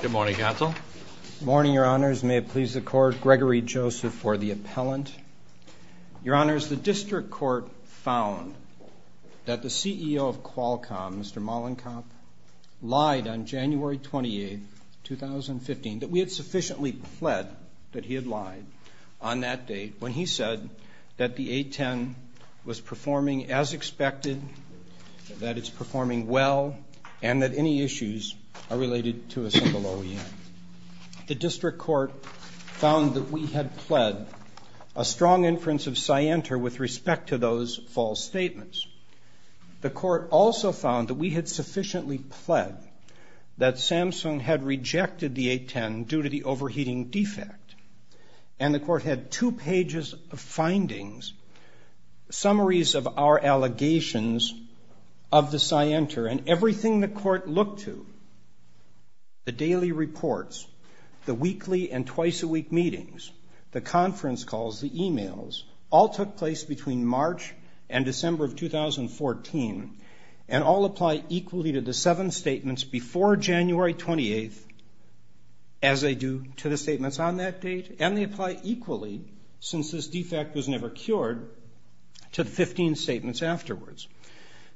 Good morning, Counsel. Good morning, Your Honors. May it please the Court, Gregory Joseph for the appellant. Your Honors, the District Court found that the CEO of Qualcomm, Mr. Mollenkamp, lied on January 28, 2015, that we had sufficiently pled that he had lied on that date when he said that the A-10 was performing as expected, that it's performing well, and that any issues are related to a single OEM. The District Court found that we had pled a strong inference of Scienter with respect to those false statements. The Court also found that we had sufficiently pled that Samsung had rejected the A-10 due to the overheating defect, and the Court had two pages of findings, summaries of our allegations of the Scienter, and everything the Court looked to, the daily reports, the weekly and twice-a-week meetings, the conference calls, the e-mails, all took place between March and December of 2014, and all apply equally to the seven statements before January 28, as they do to the statements on that date, and they apply equally, since this defect was never cured, to the 15 statements afterwards.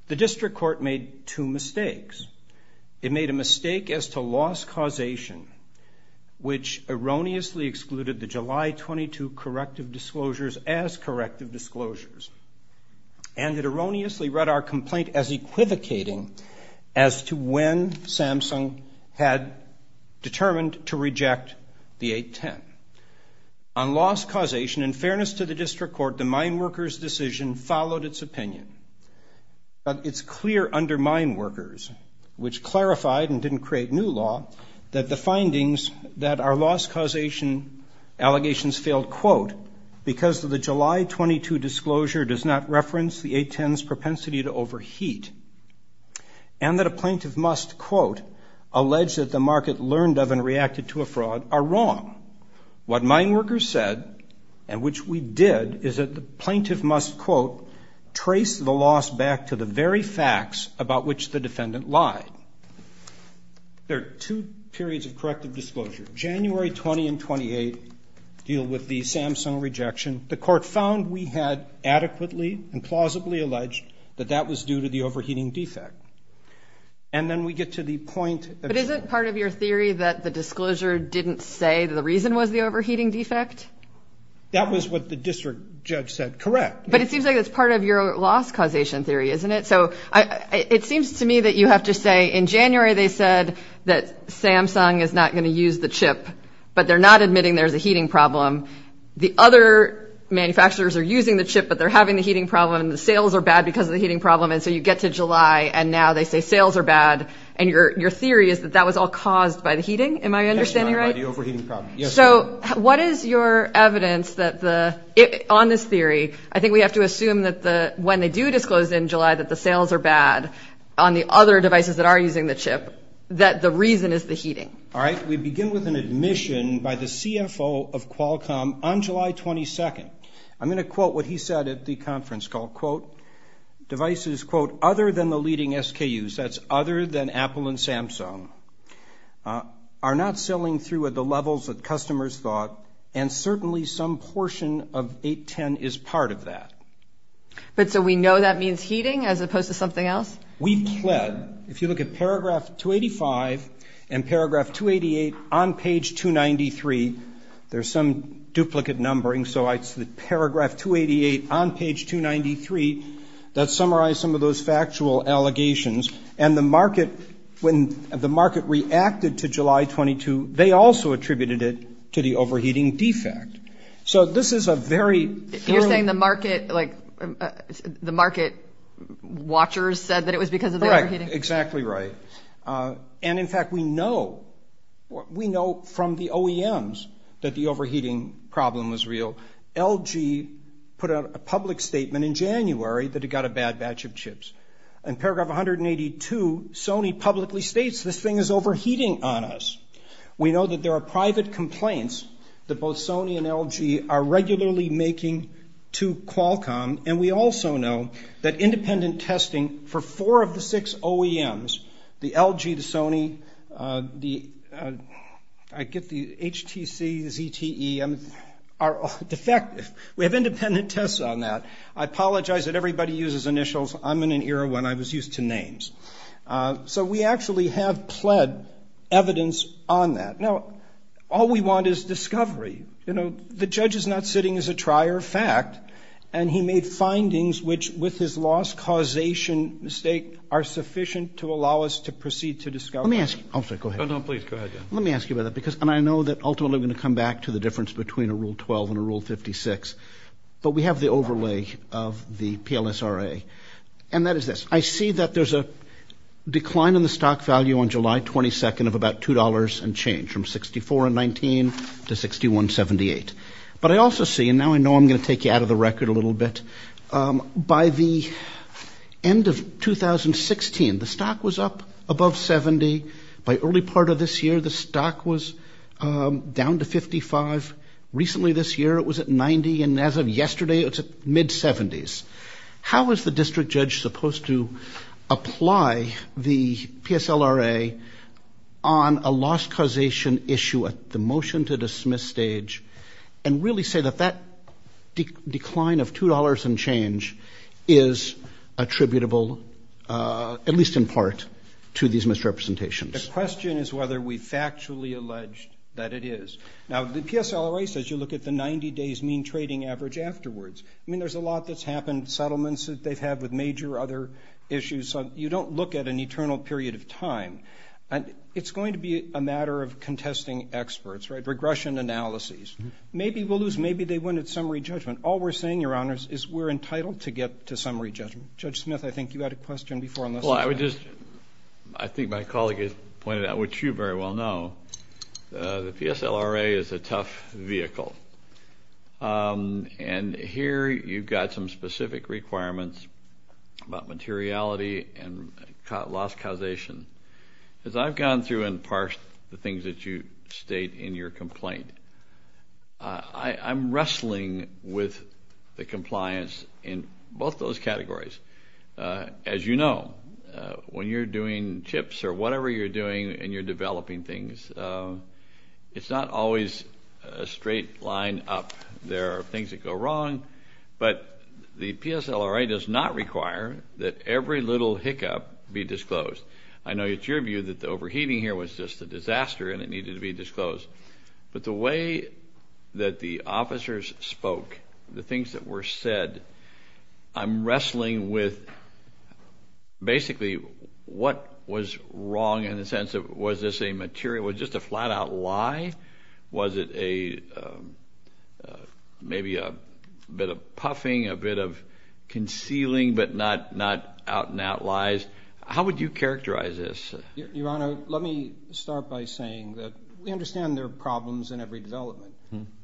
The District Court made two mistakes. It made a mistake as to loss causation, which erroneously excluded the July 22 corrective disclosures as corrective disclosures, and it erroneously read our complaint as equivocating as to when Samsung had determined to reject the A-10. On loss causation, in fairness to the District Court, the mine workers' decision followed its opinion, but it's clear under mine workers, which clarified and didn't create new law, that the findings that our loss causation allegations failed, quote, because the July 22 disclosure does not reference the A-10's propensity to overheat, and that a plaintiff must, quote, allege that the market learned of and reacted to a fraud are wrong. What mine workers said, and which we did, is that the plaintiff must, quote, trace the loss back to the very facts about which the defendant lied. There are two periods of corrective disclosure. January 20 and 28 deal with the Samsung rejection. The court found we had adequately and plausibly alleged that that was due to the overheating defect. And then we get to the point. But isn't part of your theory that the disclosure didn't say the reason was the overheating defect? That was what the district judge said. Correct. But it seems like it's part of your loss causation theory, isn't it? It seems to me that you have to say in January they said that Samsung is not going to use the chip, but they're not admitting there's a heating problem. The other manufacturers are using the chip, but they're having the heating problem, and the sales are bad because of the heating problem. And so you get to July, and now they say sales are bad. And your theory is that that was all caused by the heating? So what is your evidence on this theory? I think we have to assume that when they do disclose in July that the sales are bad on the other devices that are using the chip, that the reason is the heating. All right. We begin with an admission by the CFO of Qualcomm on July 22nd. I'm going to quote what he said at the conference call. Quote, devices, quote, other than the leading SKUs, that's other than Apple and Samsung, are not selling through at the levels that customers thought, and certainly some portion of 810 is part of that. But so we know that means heating as opposed to something else? We've pled. If you look at paragraph 285 and paragraph 288 on page 293, there's some duplicate numbering. So it's the paragraph 288 on page 293 that summarized some of those factual allegations. And the market, when the market reacted to July 22, they also attributed it to the overheating defect. So this is a very. You're saying the market, like, the market watchers said that it was because of the overheating? Correct. Exactly right. And, in fact, we know, we know from the OEMs that the overheating problem was real. LG put out a public statement in January that it got a bad batch of chips. In paragraph 182, Sony publicly states this thing is overheating on us. We know that there are private complaints that both Sony and LG are regularly making to Qualcomm. And we also know that independent testing for four of the six OEMs, the LG, the Sony, the, I get the HTC, ZTE, are defective. We have independent tests on that. I apologize that everybody uses initials. I'm in an era when I was used to names. So we actually have pled evidence on that. Now, all we want is discovery. You know, the judge is not sitting as a trier of fact. And he made findings which, with his loss causation mistake, are sufficient to allow us to proceed to discovery. Let me ask you. I'm sorry, go ahead. Oh, no, please, go ahead. Let me ask you about that, because, and I know that ultimately we're going to come back to the difference between a Rule 12 and a Rule 56. But we have the overlay of the PLSRA. And that is this. I see that there's a decline in the stock value on July 22nd of about $2 and change from $64.19 to $61.78. But I also see, and now I know I'm going to take you out of the record a little bit, by the end of 2016, the stock was up above $70. By early part of this year, the stock was down to $55. Recently this year, it was at $90. And as of yesterday, it's at mid-70s. How is the district judge supposed to apply the PSLRA on a loss causation issue at the motion-to-dismiss stage and really say that that decline of $2 and change is attributable, at least in part, to these misrepresentations? The question is whether we factually allege that it is. Now, the PSLRA says you look at the 90-days mean trading average afterwards. I mean, there's a lot that's happened, settlements that they've had with major other issues. So you don't look at an eternal period of time. And it's going to be a matter of contesting experts, right, regression analyses. Maybe we'll lose. Maybe they win at summary judgment. All we're saying, Your Honors, is we're entitled to get to summary judgment. Judge Smith, I think you had a question before. Well, I would just, I think my colleague has pointed out, which you very well know, the PSLRA is a tough vehicle. And here you've got some specific requirements about materiality and loss causation. As I've gone through and parsed the things that you state in your complaint, I'm wrestling with the compliance in both those categories. As you know, when you're doing chips or whatever you're doing and you're developing things, it's not always a straight line up. There are things that go wrong. But the PSLRA does not require that every little hiccup be disclosed. I know it's your view that the overheating here was just a disaster and it needed to be disclosed. But the way that the officers spoke, the things that were said, I'm wrestling with basically what was wrong in the sense of was this a material, was just a flat-out lie? Was it maybe a bit of puffing, a bit of concealing but not out-and-out lies? How would you characterize this? Your Honor, let me start by saying that we understand there are problems in every development.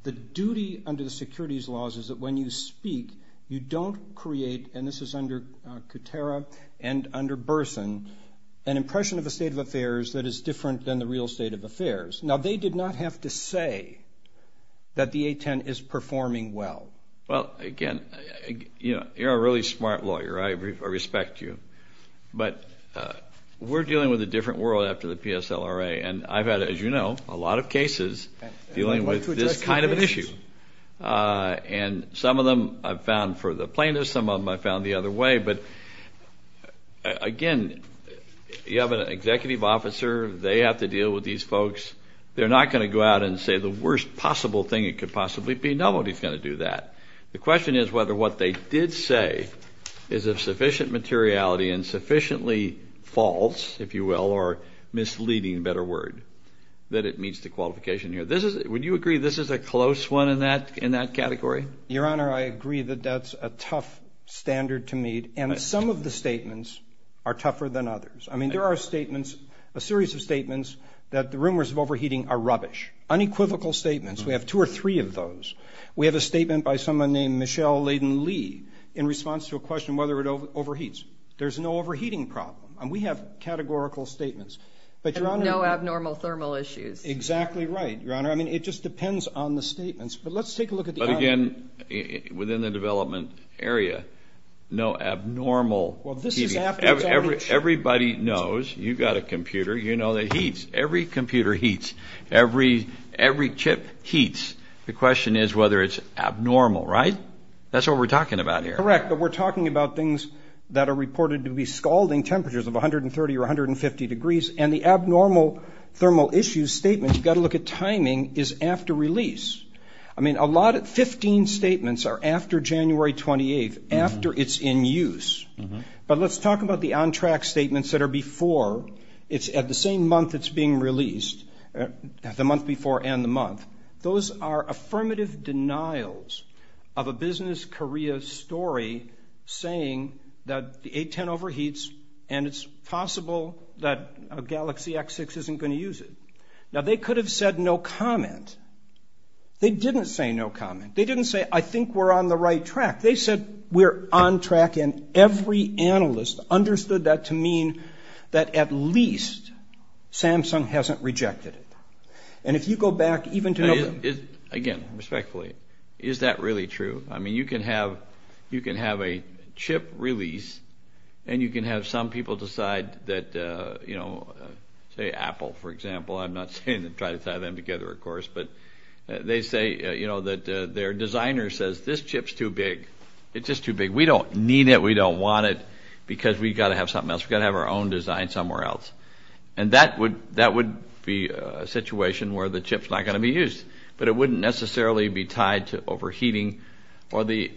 The duty under the securities laws is that when you speak, you don't create, and this is under Kutera and under Burson, an impression of a state of affairs that is different than the real state of affairs. Now, they did not have to say that the A10 is performing well. Well, again, you're a really smart lawyer. I respect you. But we're dealing with a different world after the PSLRA, and I've had, as you know, a lot of cases dealing with this kind of an issue. And some of them I've found for the plaintiffs. Some of them I've found the other way. But, again, you have an executive officer. They have to deal with these folks. They're not going to go out and say the worst possible thing it could possibly be. Nobody's going to do that. The question is whether what they did say is of sufficient materiality and sufficiently false, if you will, or misleading, better word, that it meets the qualification here. Would you agree this is a close one in that category? Your Honor, I agree that that's a tough standard to meet, and some of the statements are tougher than others. I mean, there are statements, a series of statements, that the rumors of overheating are rubbish, unequivocal statements. We have two or three of those. We have a statement by someone named Michelle Layden Lee in response to a question whether it overheats. There's no overheating problem, and we have categorical statements. But, Your Honor. No abnormal thermal issues. Exactly right, Your Honor. I mean, it just depends on the statements. But let's take a look at the other. But, again, within the development area, no abnormal heating. Everybody knows. You've got a computer. You know that it heats. Every computer heats. Every chip heats. The question is whether it's abnormal, right? That's what we're talking about here. Correct. But we're talking about things that are reported to be scalding temperatures of 130 or 150 degrees. And the abnormal thermal issues statement, you've got to look at timing, is after release. I mean, 15 statements are after January 28th, after it's in use. But let's talk about the on-track statements that are before. It's at the same month it's being released, the month before and the month. Those are affirmative denials of a Business Korea story saying that the A10 overheats and it's possible that a Galaxy X6 isn't going to use it. Now, they could have said no comment. They didn't say no comment. They didn't say, I think we're on the right track. They said, we're on track. And every analyst understood that to mean that at least Samsung hasn't rejected it. And if you go back even to November. Again, respectfully, is that really true? I mean, you can have a chip release and you can have some people decide that, you know, say Apple, for example. I'm not saying to try to tie them together, of course. But they say, you know, that their designer says, this chip's too big. It's just too big. We don't need it. We don't want it because we've got to have something else. We've got to have our own design somewhere else. And that would be a situation where the chip's not going to be used. But it wouldn't necessarily be tied to overheating or the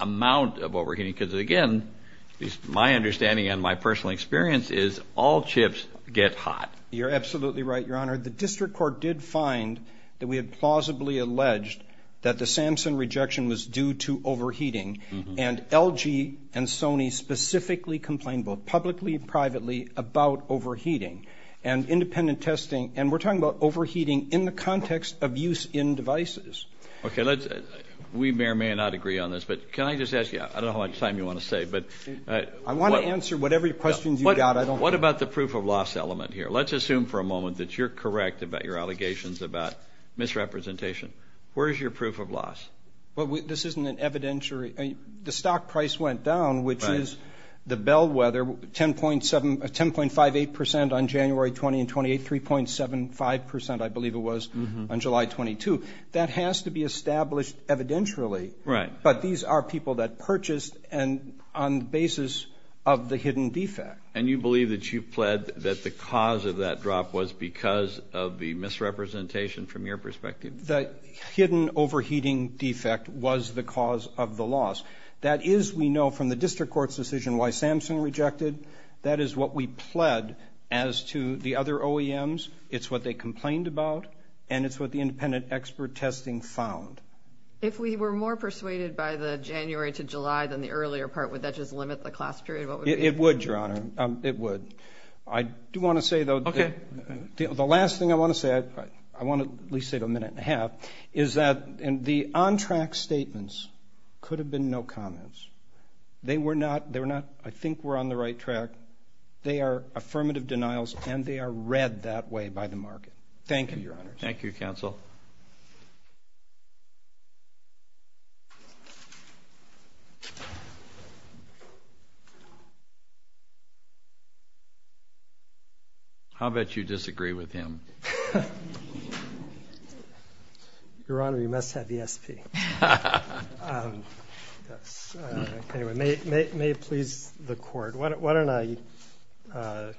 amount of overheating. Because, again, at least my understanding and my personal experience is all chips get hot. You're absolutely right, Your Honor. The district court did find that we had plausibly alleged that the Samsung rejection was due to overheating. And LG and Sony specifically complained both publicly and privately about overheating and independent testing. And we're talking about overheating in the context of use in devices. Okay. We may or may not agree on this. But can I just ask you, I don't know how much time you want to say. I want to answer whatever questions you've got. What about the proof of loss element here? Let's assume for a moment that you're correct about your allegations about misrepresentation. Where is your proof of loss? Well, this isn't an evidentiary. The stock price went down, which is the bellwether, 10.58% on January 20 and 28, 3.75%, I believe it was, on July 22. That has to be established evidentially. Right. But these are people that purchased on the basis of the hidden defect. And you believe that you pled that the cause of that drop was because of the misrepresentation from your perspective? The hidden overheating defect was the cause of the loss. That is, we know from the district court's decision, why Samson rejected. That is what we pled as to the other OEMs. It's what they complained about. And it's what the independent expert testing found. If we were more persuaded by the January to July than the earlier part, would that just limit the class period? It would, Your Honor. It would. I do want to say, though. Okay. The last thing I want to say, I want to at least say it a minute and a half, is that the on-track statements could have been no comments. They were not, I think, were on the right track. They are affirmative denials, and they are read that way by the market. Thank you, Your Honors. Thank you, Counsel. Counsel? I'll bet you disagree with him. Your Honor, you must have ESP. Anyway, may it please the Court, why don't I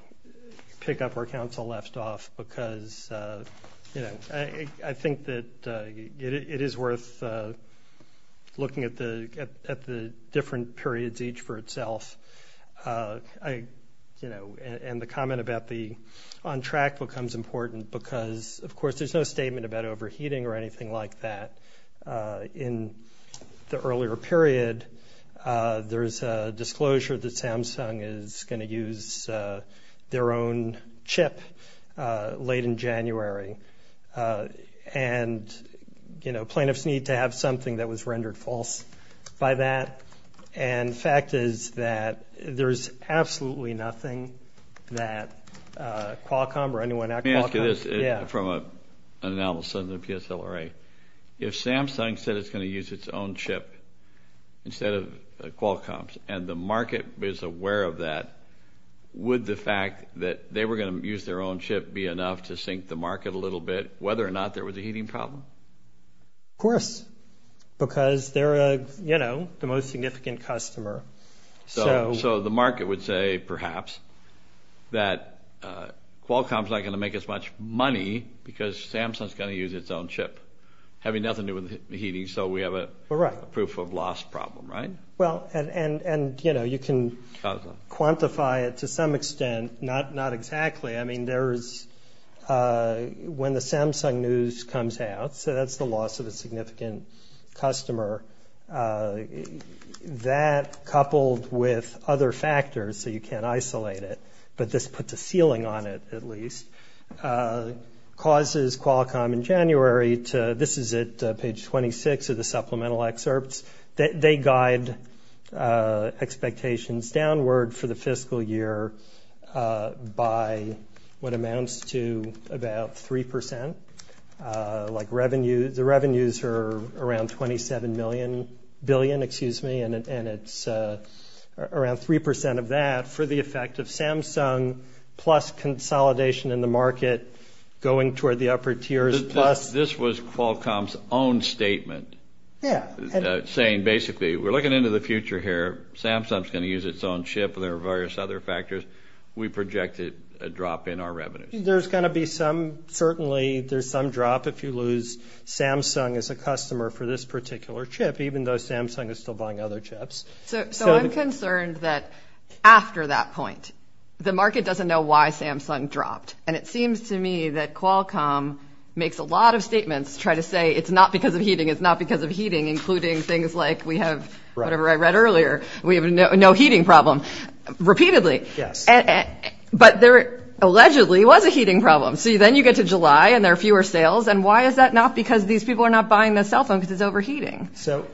pick up where Counsel left off? Because, you know, I think that it is worth looking at the different periods each for itself. And the comment about the on-track becomes important because, of course, there's no statement about overheating or anything like that. In the earlier period, there's a disclosure that Samsung is going to use their own chip late in January. And, you know, plaintiffs need to have something that was rendered false by that. And the fact is that there's absolutely nothing that Qualcomm or anyone at Qualcomm. I'll say this from an anomalous son of the PSLRA. If Samsung said it's going to use its own chip instead of Qualcomm's and the market is aware of that, would the fact that they were going to use their own chip be enough to sink the market a little bit, whether or not there was a heating problem? Of course, because they're, you know, the most significant customer. So the market would say, perhaps, that Qualcomm's not going to make as much money because Samsung's going to use its own chip, having nothing to do with the heating, so we have a proof of loss problem, right? Well, and, you know, you can quantify it to some extent. Not exactly. I mean, there is when the Samsung news comes out, so that's the loss of a significant customer. That, coupled with other factors, so you can't isolate it, but this puts a ceiling on it, at least, causes Qualcomm in January to, this is it, page 26 of the supplemental excerpts, that they guide expectations downward for the fiscal year by what amounts to about 3 percent. Like revenue, the revenues are around $27 billion, excuse me, and it's around 3 percent of that for the effect of Samsung, plus consolidation in the market going toward the upper tiers, plus. This was Qualcomm's own statement. Yeah. Saying, basically, we're looking into the future here. Samsung's going to use its own chip, and there are various other factors. We projected a drop in our revenues. There's going to be some, certainly, there's some drop if you lose Samsung as a customer for this particular chip, even though Samsung is still buying other chips. So I'm concerned that, after that point, the market doesn't know why Samsung dropped, and it seems to me that Qualcomm makes a lot of statements to try to say it's not because of heating, it's not because of heating, including things like we have, whatever I read earlier, we have no heating problem, repeatedly. Yes. But there, allegedly, was a heating problem. So then you get to July, and there are fewer sales, and why is that not because these people are not buying the cell phone because it's overheating? So,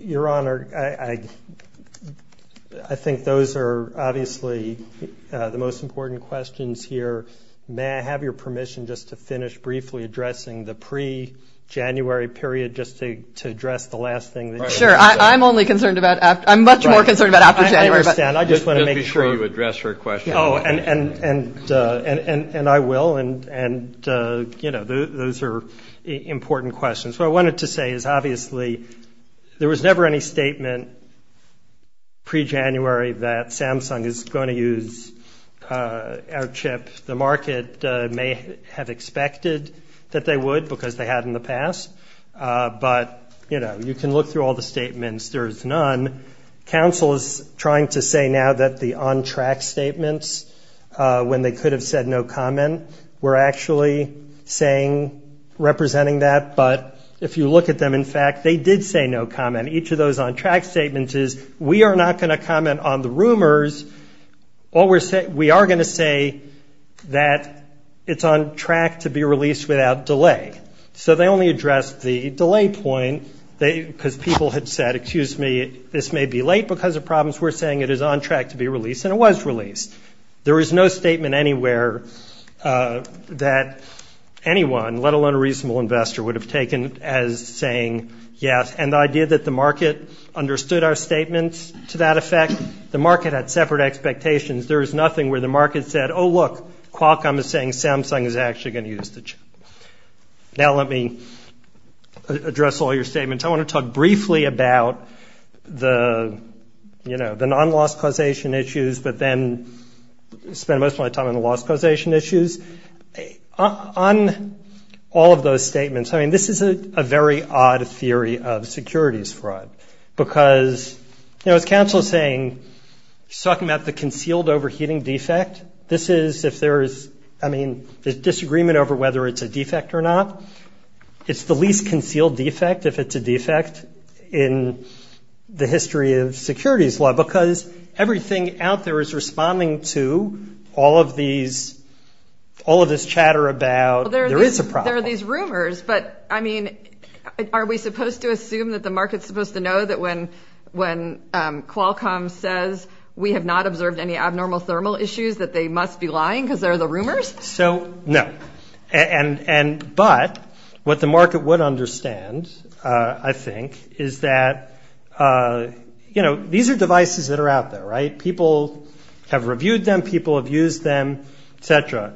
Your Honor, I think those are, obviously, the most important questions here. May I have your permission just to finish briefly addressing the pre-January period, just to address the last thing? Sure. I'm only concerned about after. I'm much more concerned about after January. I understand. I just want to make sure. Just be sure you address her question. Oh, and I will. And, you know, those are important questions. What I wanted to say is, obviously, there was never any statement pre-January that Samsung is going to use our chip. The market may have expected that they would because they had in the past. But, you know, you can look through all the statements. There is none. Counsel is trying to say now that the on-track statements, when they could have said no comment, were actually saying, representing that. But if you look at them, in fact, they did say no comment. Each of those on-track statements is, we are not going to comment on the rumors. We are going to say that it's on track to be released without delay. So they only addressed the delay point because people had said, excuse me, this may be late because of problems. We're saying it is on track to be released, and it was released. There is no statement anywhere that anyone, let alone a reasonable investor, would have taken as saying yes. And the idea that the market understood our statements to that effect, the market had separate expectations. There is nothing where the market said, oh, look, Qualcomm is saying Samsung is actually going to use the chip. Now let me address all your statements. I want to talk briefly about the, you know, the non-loss causation issues, but then spend most of my time on the loss causation issues. On all of those statements, I mean, this is a very odd theory of securities fraud because, you know, as counsel is saying, she's talking about the concealed overheating defect. This is if there is, I mean, there's disagreement over whether it's a defect or not. It's the least concealed defect if it's a defect in the history of securities law because everything out there is responding to all of these, all of this chatter about there is a problem. There are these rumors, but, I mean, are we supposed to assume that the market is supposed to know that when Qualcomm says we have not observed any abnormal thermal issues that they must be lying because they're the rumors? So, no. But what the market would understand, I think, is that, you know, these are devices that are out there, right? People have reviewed them. People have used them, et cetera.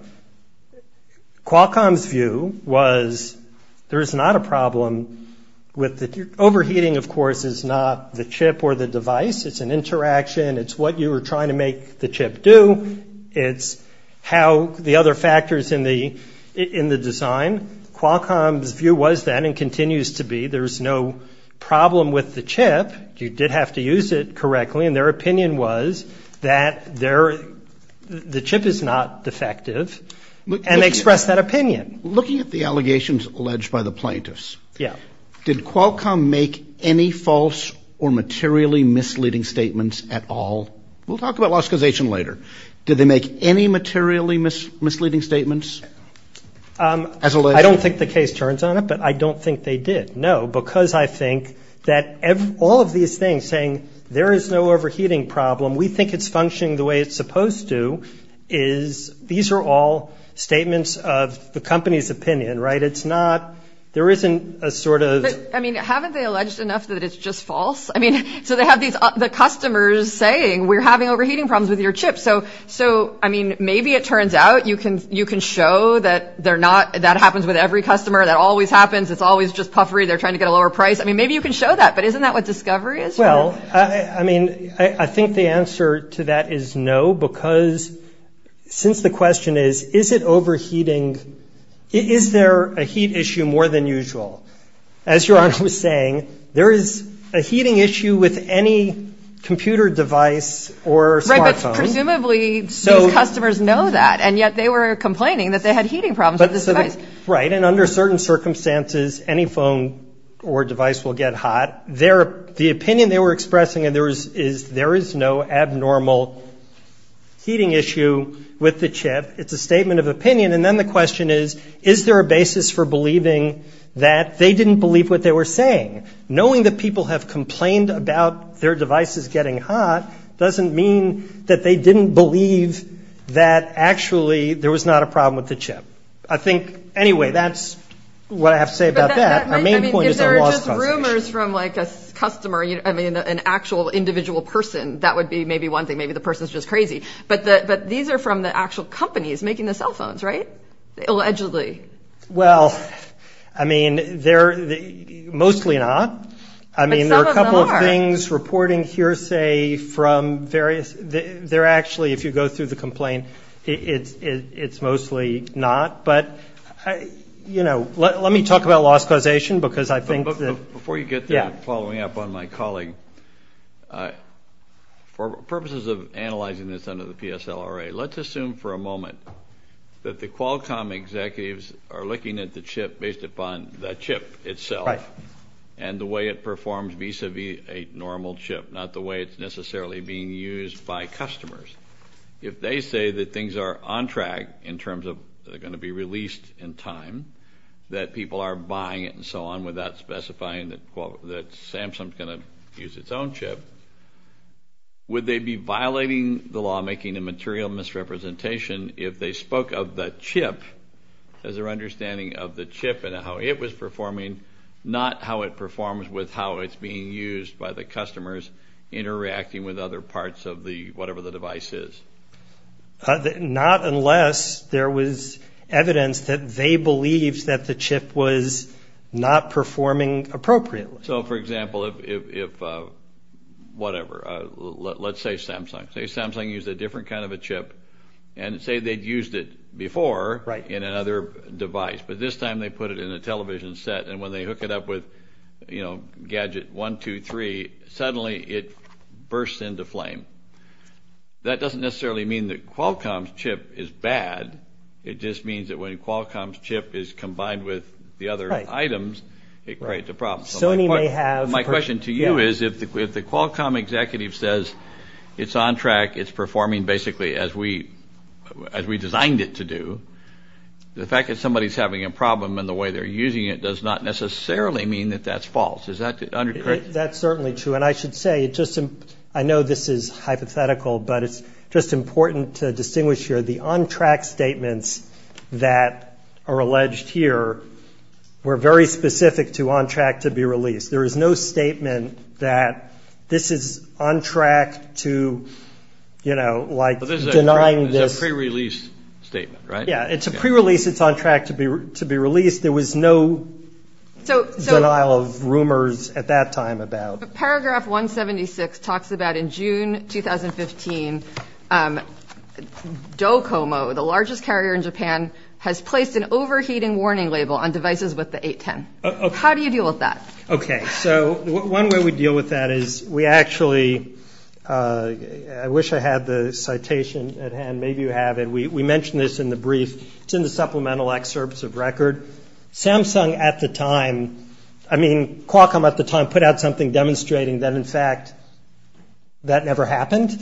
Qualcomm's view was there is not a problem with the overheating, of course, is not the chip or the device. It's an interaction. It's what you were trying to make the chip do. It's how the other factors in the design. Qualcomm's view was that and continues to be there's no problem with the chip. You did have to use it correctly. And their opinion was that the chip is not defective. And they expressed that opinion. Looking at the allegations alleged by the plaintiffs, did Qualcomm make any false or materially misleading statements at all? We'll talk about lauscusation later. Did they make any materially misleading statements as alleged? I don't think the case turns on it, but I don't think they did. No, because I think that all of these things saying there is no overheating problem, we think it's functioning the way it's supposed to, is these are all statements of the company's opinion, right? It's not there isn't a sort of. I mean, haven't they alleged enough that it's just false? I mean, so they have these the customers saying we're having overheating problems with your chip. So so I mean, maybe it turns out you can you can show that they're not. That happens with every customer. That always happens. It's always just puffery. They're trying to get a lower price. I mean, maybe you can show that. But isn't that what discovery is? Well, I mean, I think the answer to that is no, because since the question is, is it overheating? Is there a heat issue more than usual? As your honor was saying, there is a heating issue with any computer device or smartphone. Presumably, so customers know that. And yet they were complaining that they had heating problems. Right. And under certain circumstances, any phone or device will get hot there. The opinion they were expressing and there is is there is no abnormal heating issue with the chip. It's a statement of opinion. And then the question is, is there a basis for believing that they didn't believe what they were saying? Knowing that people have complained about their devices getting hot doesn't mean that they didn't believe that. Actually, there was not a problem with the chip. I think anyway, that's what I have to say about that. I mean, there are rumors from like a customer, I mean, an actual individual person. That would be maybe one thing. Maybe the person is just crazy. But these are from the actual companies making the cell phones. Right. Allegedly. Well, I mean, they're mostly not. I mean, there are a couple of things reporting hearsay from various. They're actually, if you go through the complaint, it's mostly not. But, you know, let me talk about loss causation because I think that. Before you get there, following up on my colleague, for purposes of analyzing this under the PSLRA, let's assume for a moment that the Qualcomm executives are looking at the chip based upon the chip itself. Right. And the way it performs vis-a-vis a normal chip, not the way it's necessarily being used by customers. If they say that things are on track in terms of they're going to be released in time, that people are buying it and so on without specifying that Samsung is going to use its own chip, would they be violating the law, making a material misrepresentation, if they spoke of the chip as their understanding of the chip and how it was performing, not how it performs with how it's being used by the customers interacting with other parts of the whatever the device is? Not unless there was evidence that they believed that the chip was not performing appropriately. So, for example, if whatever, let's say Samsung. Say Samsung used a different kind of a chip and say they'd used it before in another device, but this time they put it in a television set and when they hook it up with gadget one, two, three, suddenly it bursts into flame. That doesn't necessarily mean that Qualcomm's chip is bad. It just means that when Qualcomm's chip is combined with the other items, it creates a problem. My question to you is if the Qualcomm executive says it's on track, it's performing basically as we designed it to do, the fact that somebody's having a problem in the way they're using it does not necessarily mean that that's false. Is that correct? That's certainly true. And I should say, I know this is hypothetical, but it's just important to distinguish here, the on-track statements that are alleged here were very specific to on-track to be released. There is no statement that this is on track to, you know, like denying this. But this is a pre-release statement, right? Yeah, it's a pre-release. It's on track to be released. There was no denial of rumors at that time about. Paragraph 176 talks about in June 2015, DoCoMo, the largest carrier in Japan, has placed an overheating warning label on devices with the 810. How do you deal with that? Okay, so one way we deal with that is we actually, I wish I had the citation at hand. Maybe you have it. We mentioned this in the brief. It's in the supplemental excerpts of record. Samsung at the time, I mean, Qualcomm at the time put out something demonstrating that, in fact, that never happened.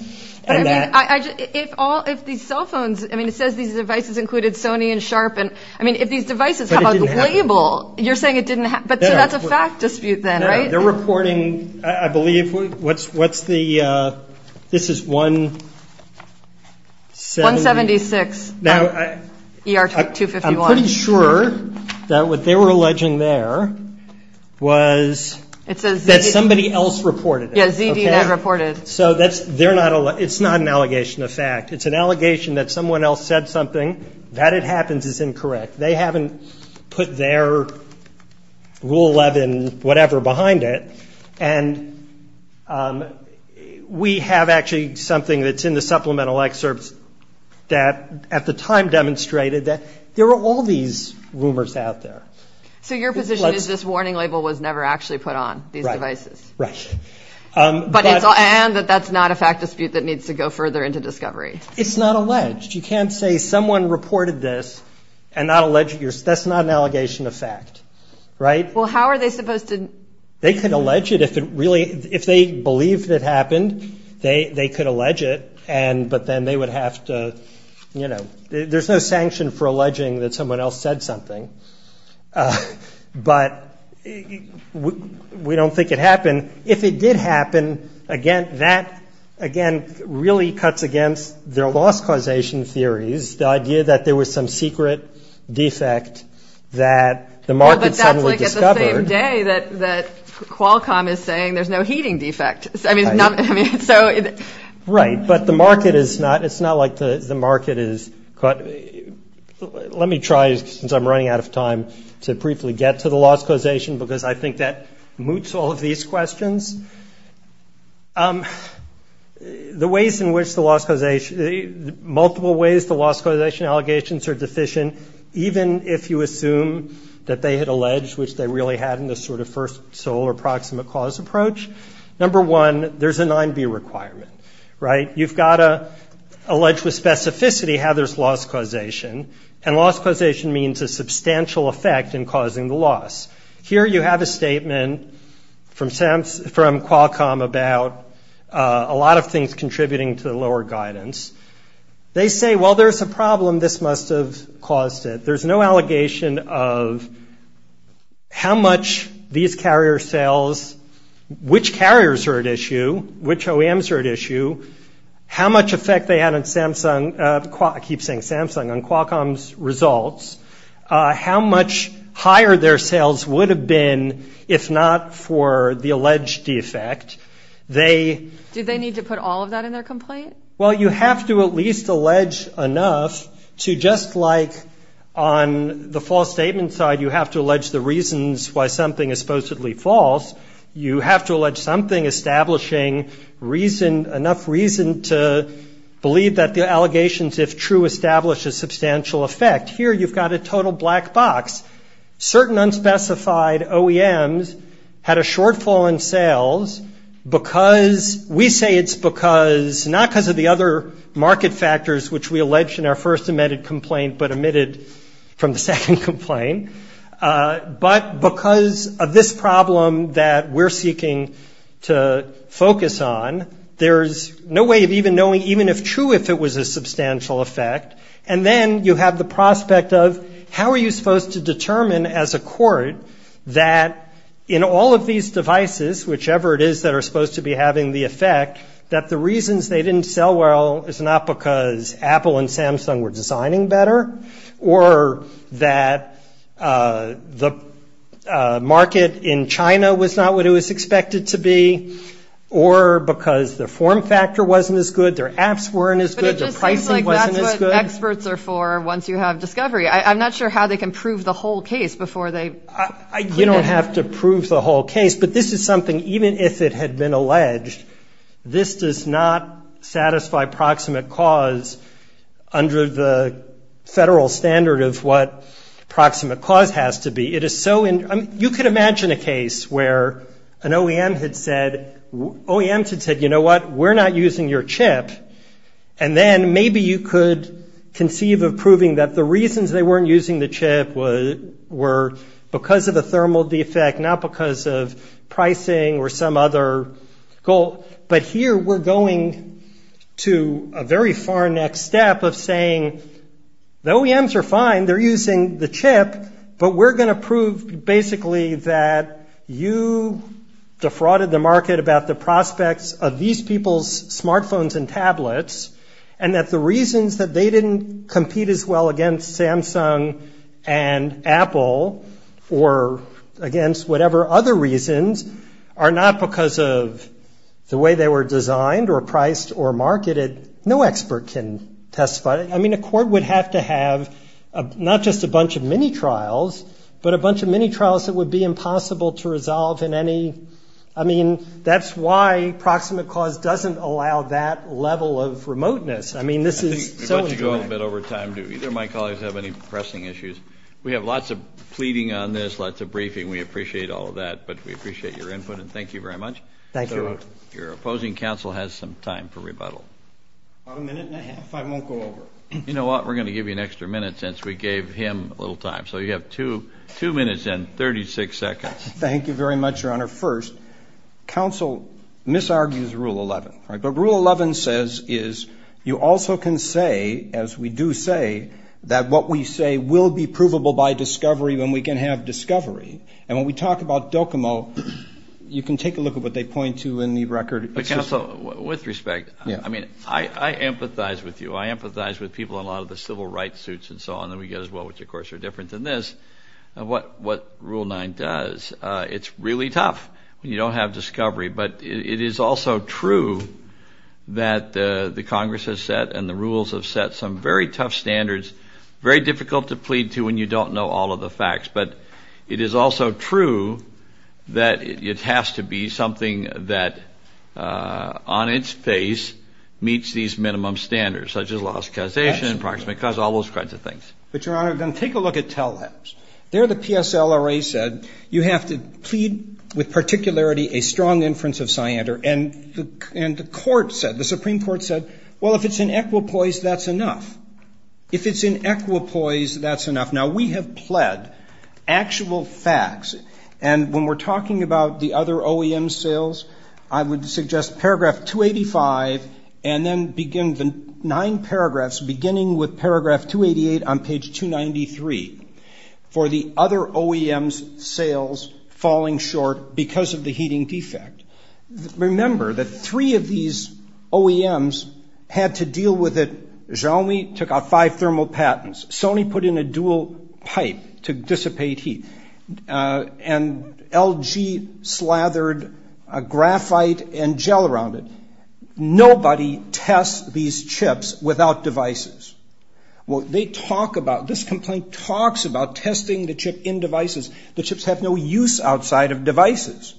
But, I mean, if all, if these cell phones, I mean, it says these devices included Sony and Sharp. And, I mean, if these devices have a label, you're saying it didn't happen. So that's a fact dispute then, right? They're reporting, I believe, what's the, this is 176. 176 ER251. I'm pretty sure that what they were alleging there was that somebody else reported it. Yeah, ZDNet reported. So that's, they're not, it's not an allegation of fact. It's an allegation that someone else said something, that it happens is incorrect. They haven't put their Rule 11 whatever behind it. And we have actually something that's in the supplemental excerpts that, at the time, demonstrated that there were all these rumors out there. So your position is this warning label was never actually put on these devices? Right. But it's, and that that's not a fact dispute that needs to go further into discovery. It's not alleged. You can't say someone reported this and not allege, that's not an allegation of fact, right? Well, how are they supposed to? They could allege it if it really, if they believed it happened, they could allege it. And, but then they would have to, you know, there's no sanction for alleging that someone else said something. But we don't think it happened. If it did happen, again, that, again, really cuts against their loss causation theories, the idea that there was some secret defect that the market suddenly discovered. Well, but that's like at the same day that Qualcomm is saying there's no heating defect. I mean, so. Right. But the market is not, it's not like the market is, let me try, since I'm running out of time, to briefly get to the loss causation because I think that moots all of these questions. The ways in which the loss causation, multiple ways the loss causation allegations are deficient, even if you assume that they had alleged, which they really hadn't, a sort of first sole or proximate cause approach. Number one, there's a 9B requirement, right? You've got to allege with specificity how there's loss causation, and loss causation means a substantial effect in causing the loss. Here you have a statement from Qualcomm about a lot of things contributing to the lower guidance. They say, well, there's a problem. This must have caused it. There's no allegation of how much these carrier cells, which carriers are at issue, which OEMs are at issue, how much effect they had on Samsung, I keep saying Samsung, on Qualcomm's results, how much higher their sales would have been if not for the alleged defect. Did they need to put all of that in their complaint? Well, you have to at least allege enough to just like on the false statement side, you have to allege the reasons why something is supposedly false, you have to allege something establishing enough reason to believe that the allegations, if true, establish a substantial effect. Here you've got a total black box. Certain unspecified OEMs had a shortfall in sales because we say it's because, not because of the other market factors which we alleged in our first amended complaint, but omitted from the second complaint, but because of this problem that we're seeking to focus on, there's no way of even knowing, even if true, if it was a substantial effect. And then you have the prospect of how are you supposed to determine as a court that in all of these devices, whichever it is that are supposed to be having the effect, that the reasons they didn't sell well is not because Apple and Samsung were designing better, or that the market in China was not what it was expected to be, or because the form factor wasn't as good, their apps weren't as good, their pricing wasn't as good. And that's what experts are for once you have discovery. I'm not sure how they can prove the whole case before they. You don't have to prove the whole case. But this is something, even if it had been alleged, this does not satisfy proximate cause under the federal standard of what proximate cause has to be. You could imagine a case where an OEM had said, you know what, we're not using your chip, and then maybe you could conceive of proving that the reasons they weren't using the chip were because of a thermal defect, not because of pricing or some other goal. But here we're going to a very far next step of saying the OEMs are fine, they're using the chip, but we're going to prove basically that you defrauded the market about the prospects of these people's smartphones and tablets and that the reasons that they didn't compete as well against Samsung and Apple or against whatever other reasons are not because of the way they were designed or priced or marketed. No expert can testify. I mean, a court would have to have not just a bunch of mini-trials, but a bunch of mini-trials that would be impossible to resolve in any, I mean, that's why proximate cause doesn't allow that level of remoteness. I mean, this is so important. I think we're about to go a little bit over time. Do either of my colleagues have any pressing issues? We have lots of pleading on this, lots of briefing. We appreciate all of that, but we appreciate your input and thank you very much. Thank you. Your opposing counsel has some time for rebuttal. About a minute and a half. I won't go over. You know what, we're going to give you an extra minute since we gave him a little time. So you have two minutes and 36 seconds. Thank you very much, Your Honor. Your Honor, first, counsel misargues Rule 11. But Rule 11 says is you also can say, as we do say, that what we say will be provable by discovery when we can have discovery. And when we talk about DOCOMO, you can take a look at what they point to in the record. But, counsel, with respect, I mean, I empathize with you. I empathize with people on a lot of the civil rights suits and so on that we get as well, which, of course, are different than this. What Rule 9 does, it's really tough when you don't have discovery. But it is also true that the Congress has set and the rules have set some very tough standards, very difficult to plead to when you don't know all of the facts. But it is also true that it has to be something that on its face meets these minimum standards, such as laws of causation and proximate cause, all those kinds of things. But, Your Honor, then take a look at TELHEBS. There the PSLRA said you have to plead with particularity a strong inference of Siander. And the court said, the Supreme Court said, well, if it's in equipoise, that's enough. If it's in equipoise, that's enough. Now, we have pled actual facts. And when we're talking about the other OEM sales, I would suggest paragraph 285 and then begin the nine paragraphs, beginning with paragraph 288 on page 293, for the other OEM's sales falling short because of the heating defect. Remember that three of these OEMs had to deal with it. Xiaomi took out five thermal patents. Sony put in a dual pipe to dissipate heat. And LG slathered graphite and gel around it. And nobody tests these chips without devices. Well, they talk about, this complaint talks about testing the chip in devices. The chips have no use outside of devices.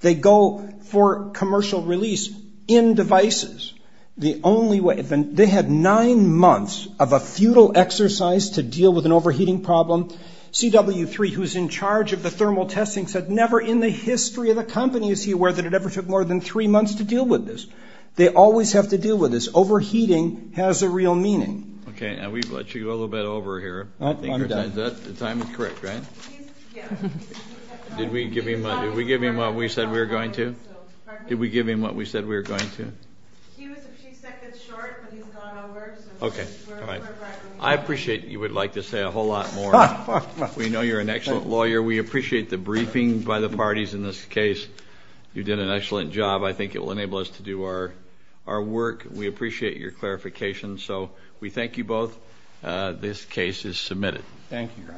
They go for commercial release in devices. The only way, they had nine months of a futile exercise to deal with an overheating problem. CW3, who's in charge of the thermal testing, said never in the history of the company is he aware that it ever took more than three months to deal with this. They always have to deal with this. Overheating has a real meaning. Okay. And we've let you go a little bit over here. I'm done. The time is correct, right? Yeah. Did we give him what we said we were going to? Did we give him what we said we were going to? He was a few seconds short, but he's gone over. Okay. All right. I appreciate you would like to say a whole lot more. We know you're an excellent lawyer. We appreciate the briefing by the parties in this case. You did an excellent job. I think it will enable us to do our work. We appreciate your clarification. So we thank you both. This case is submitted. Thank you.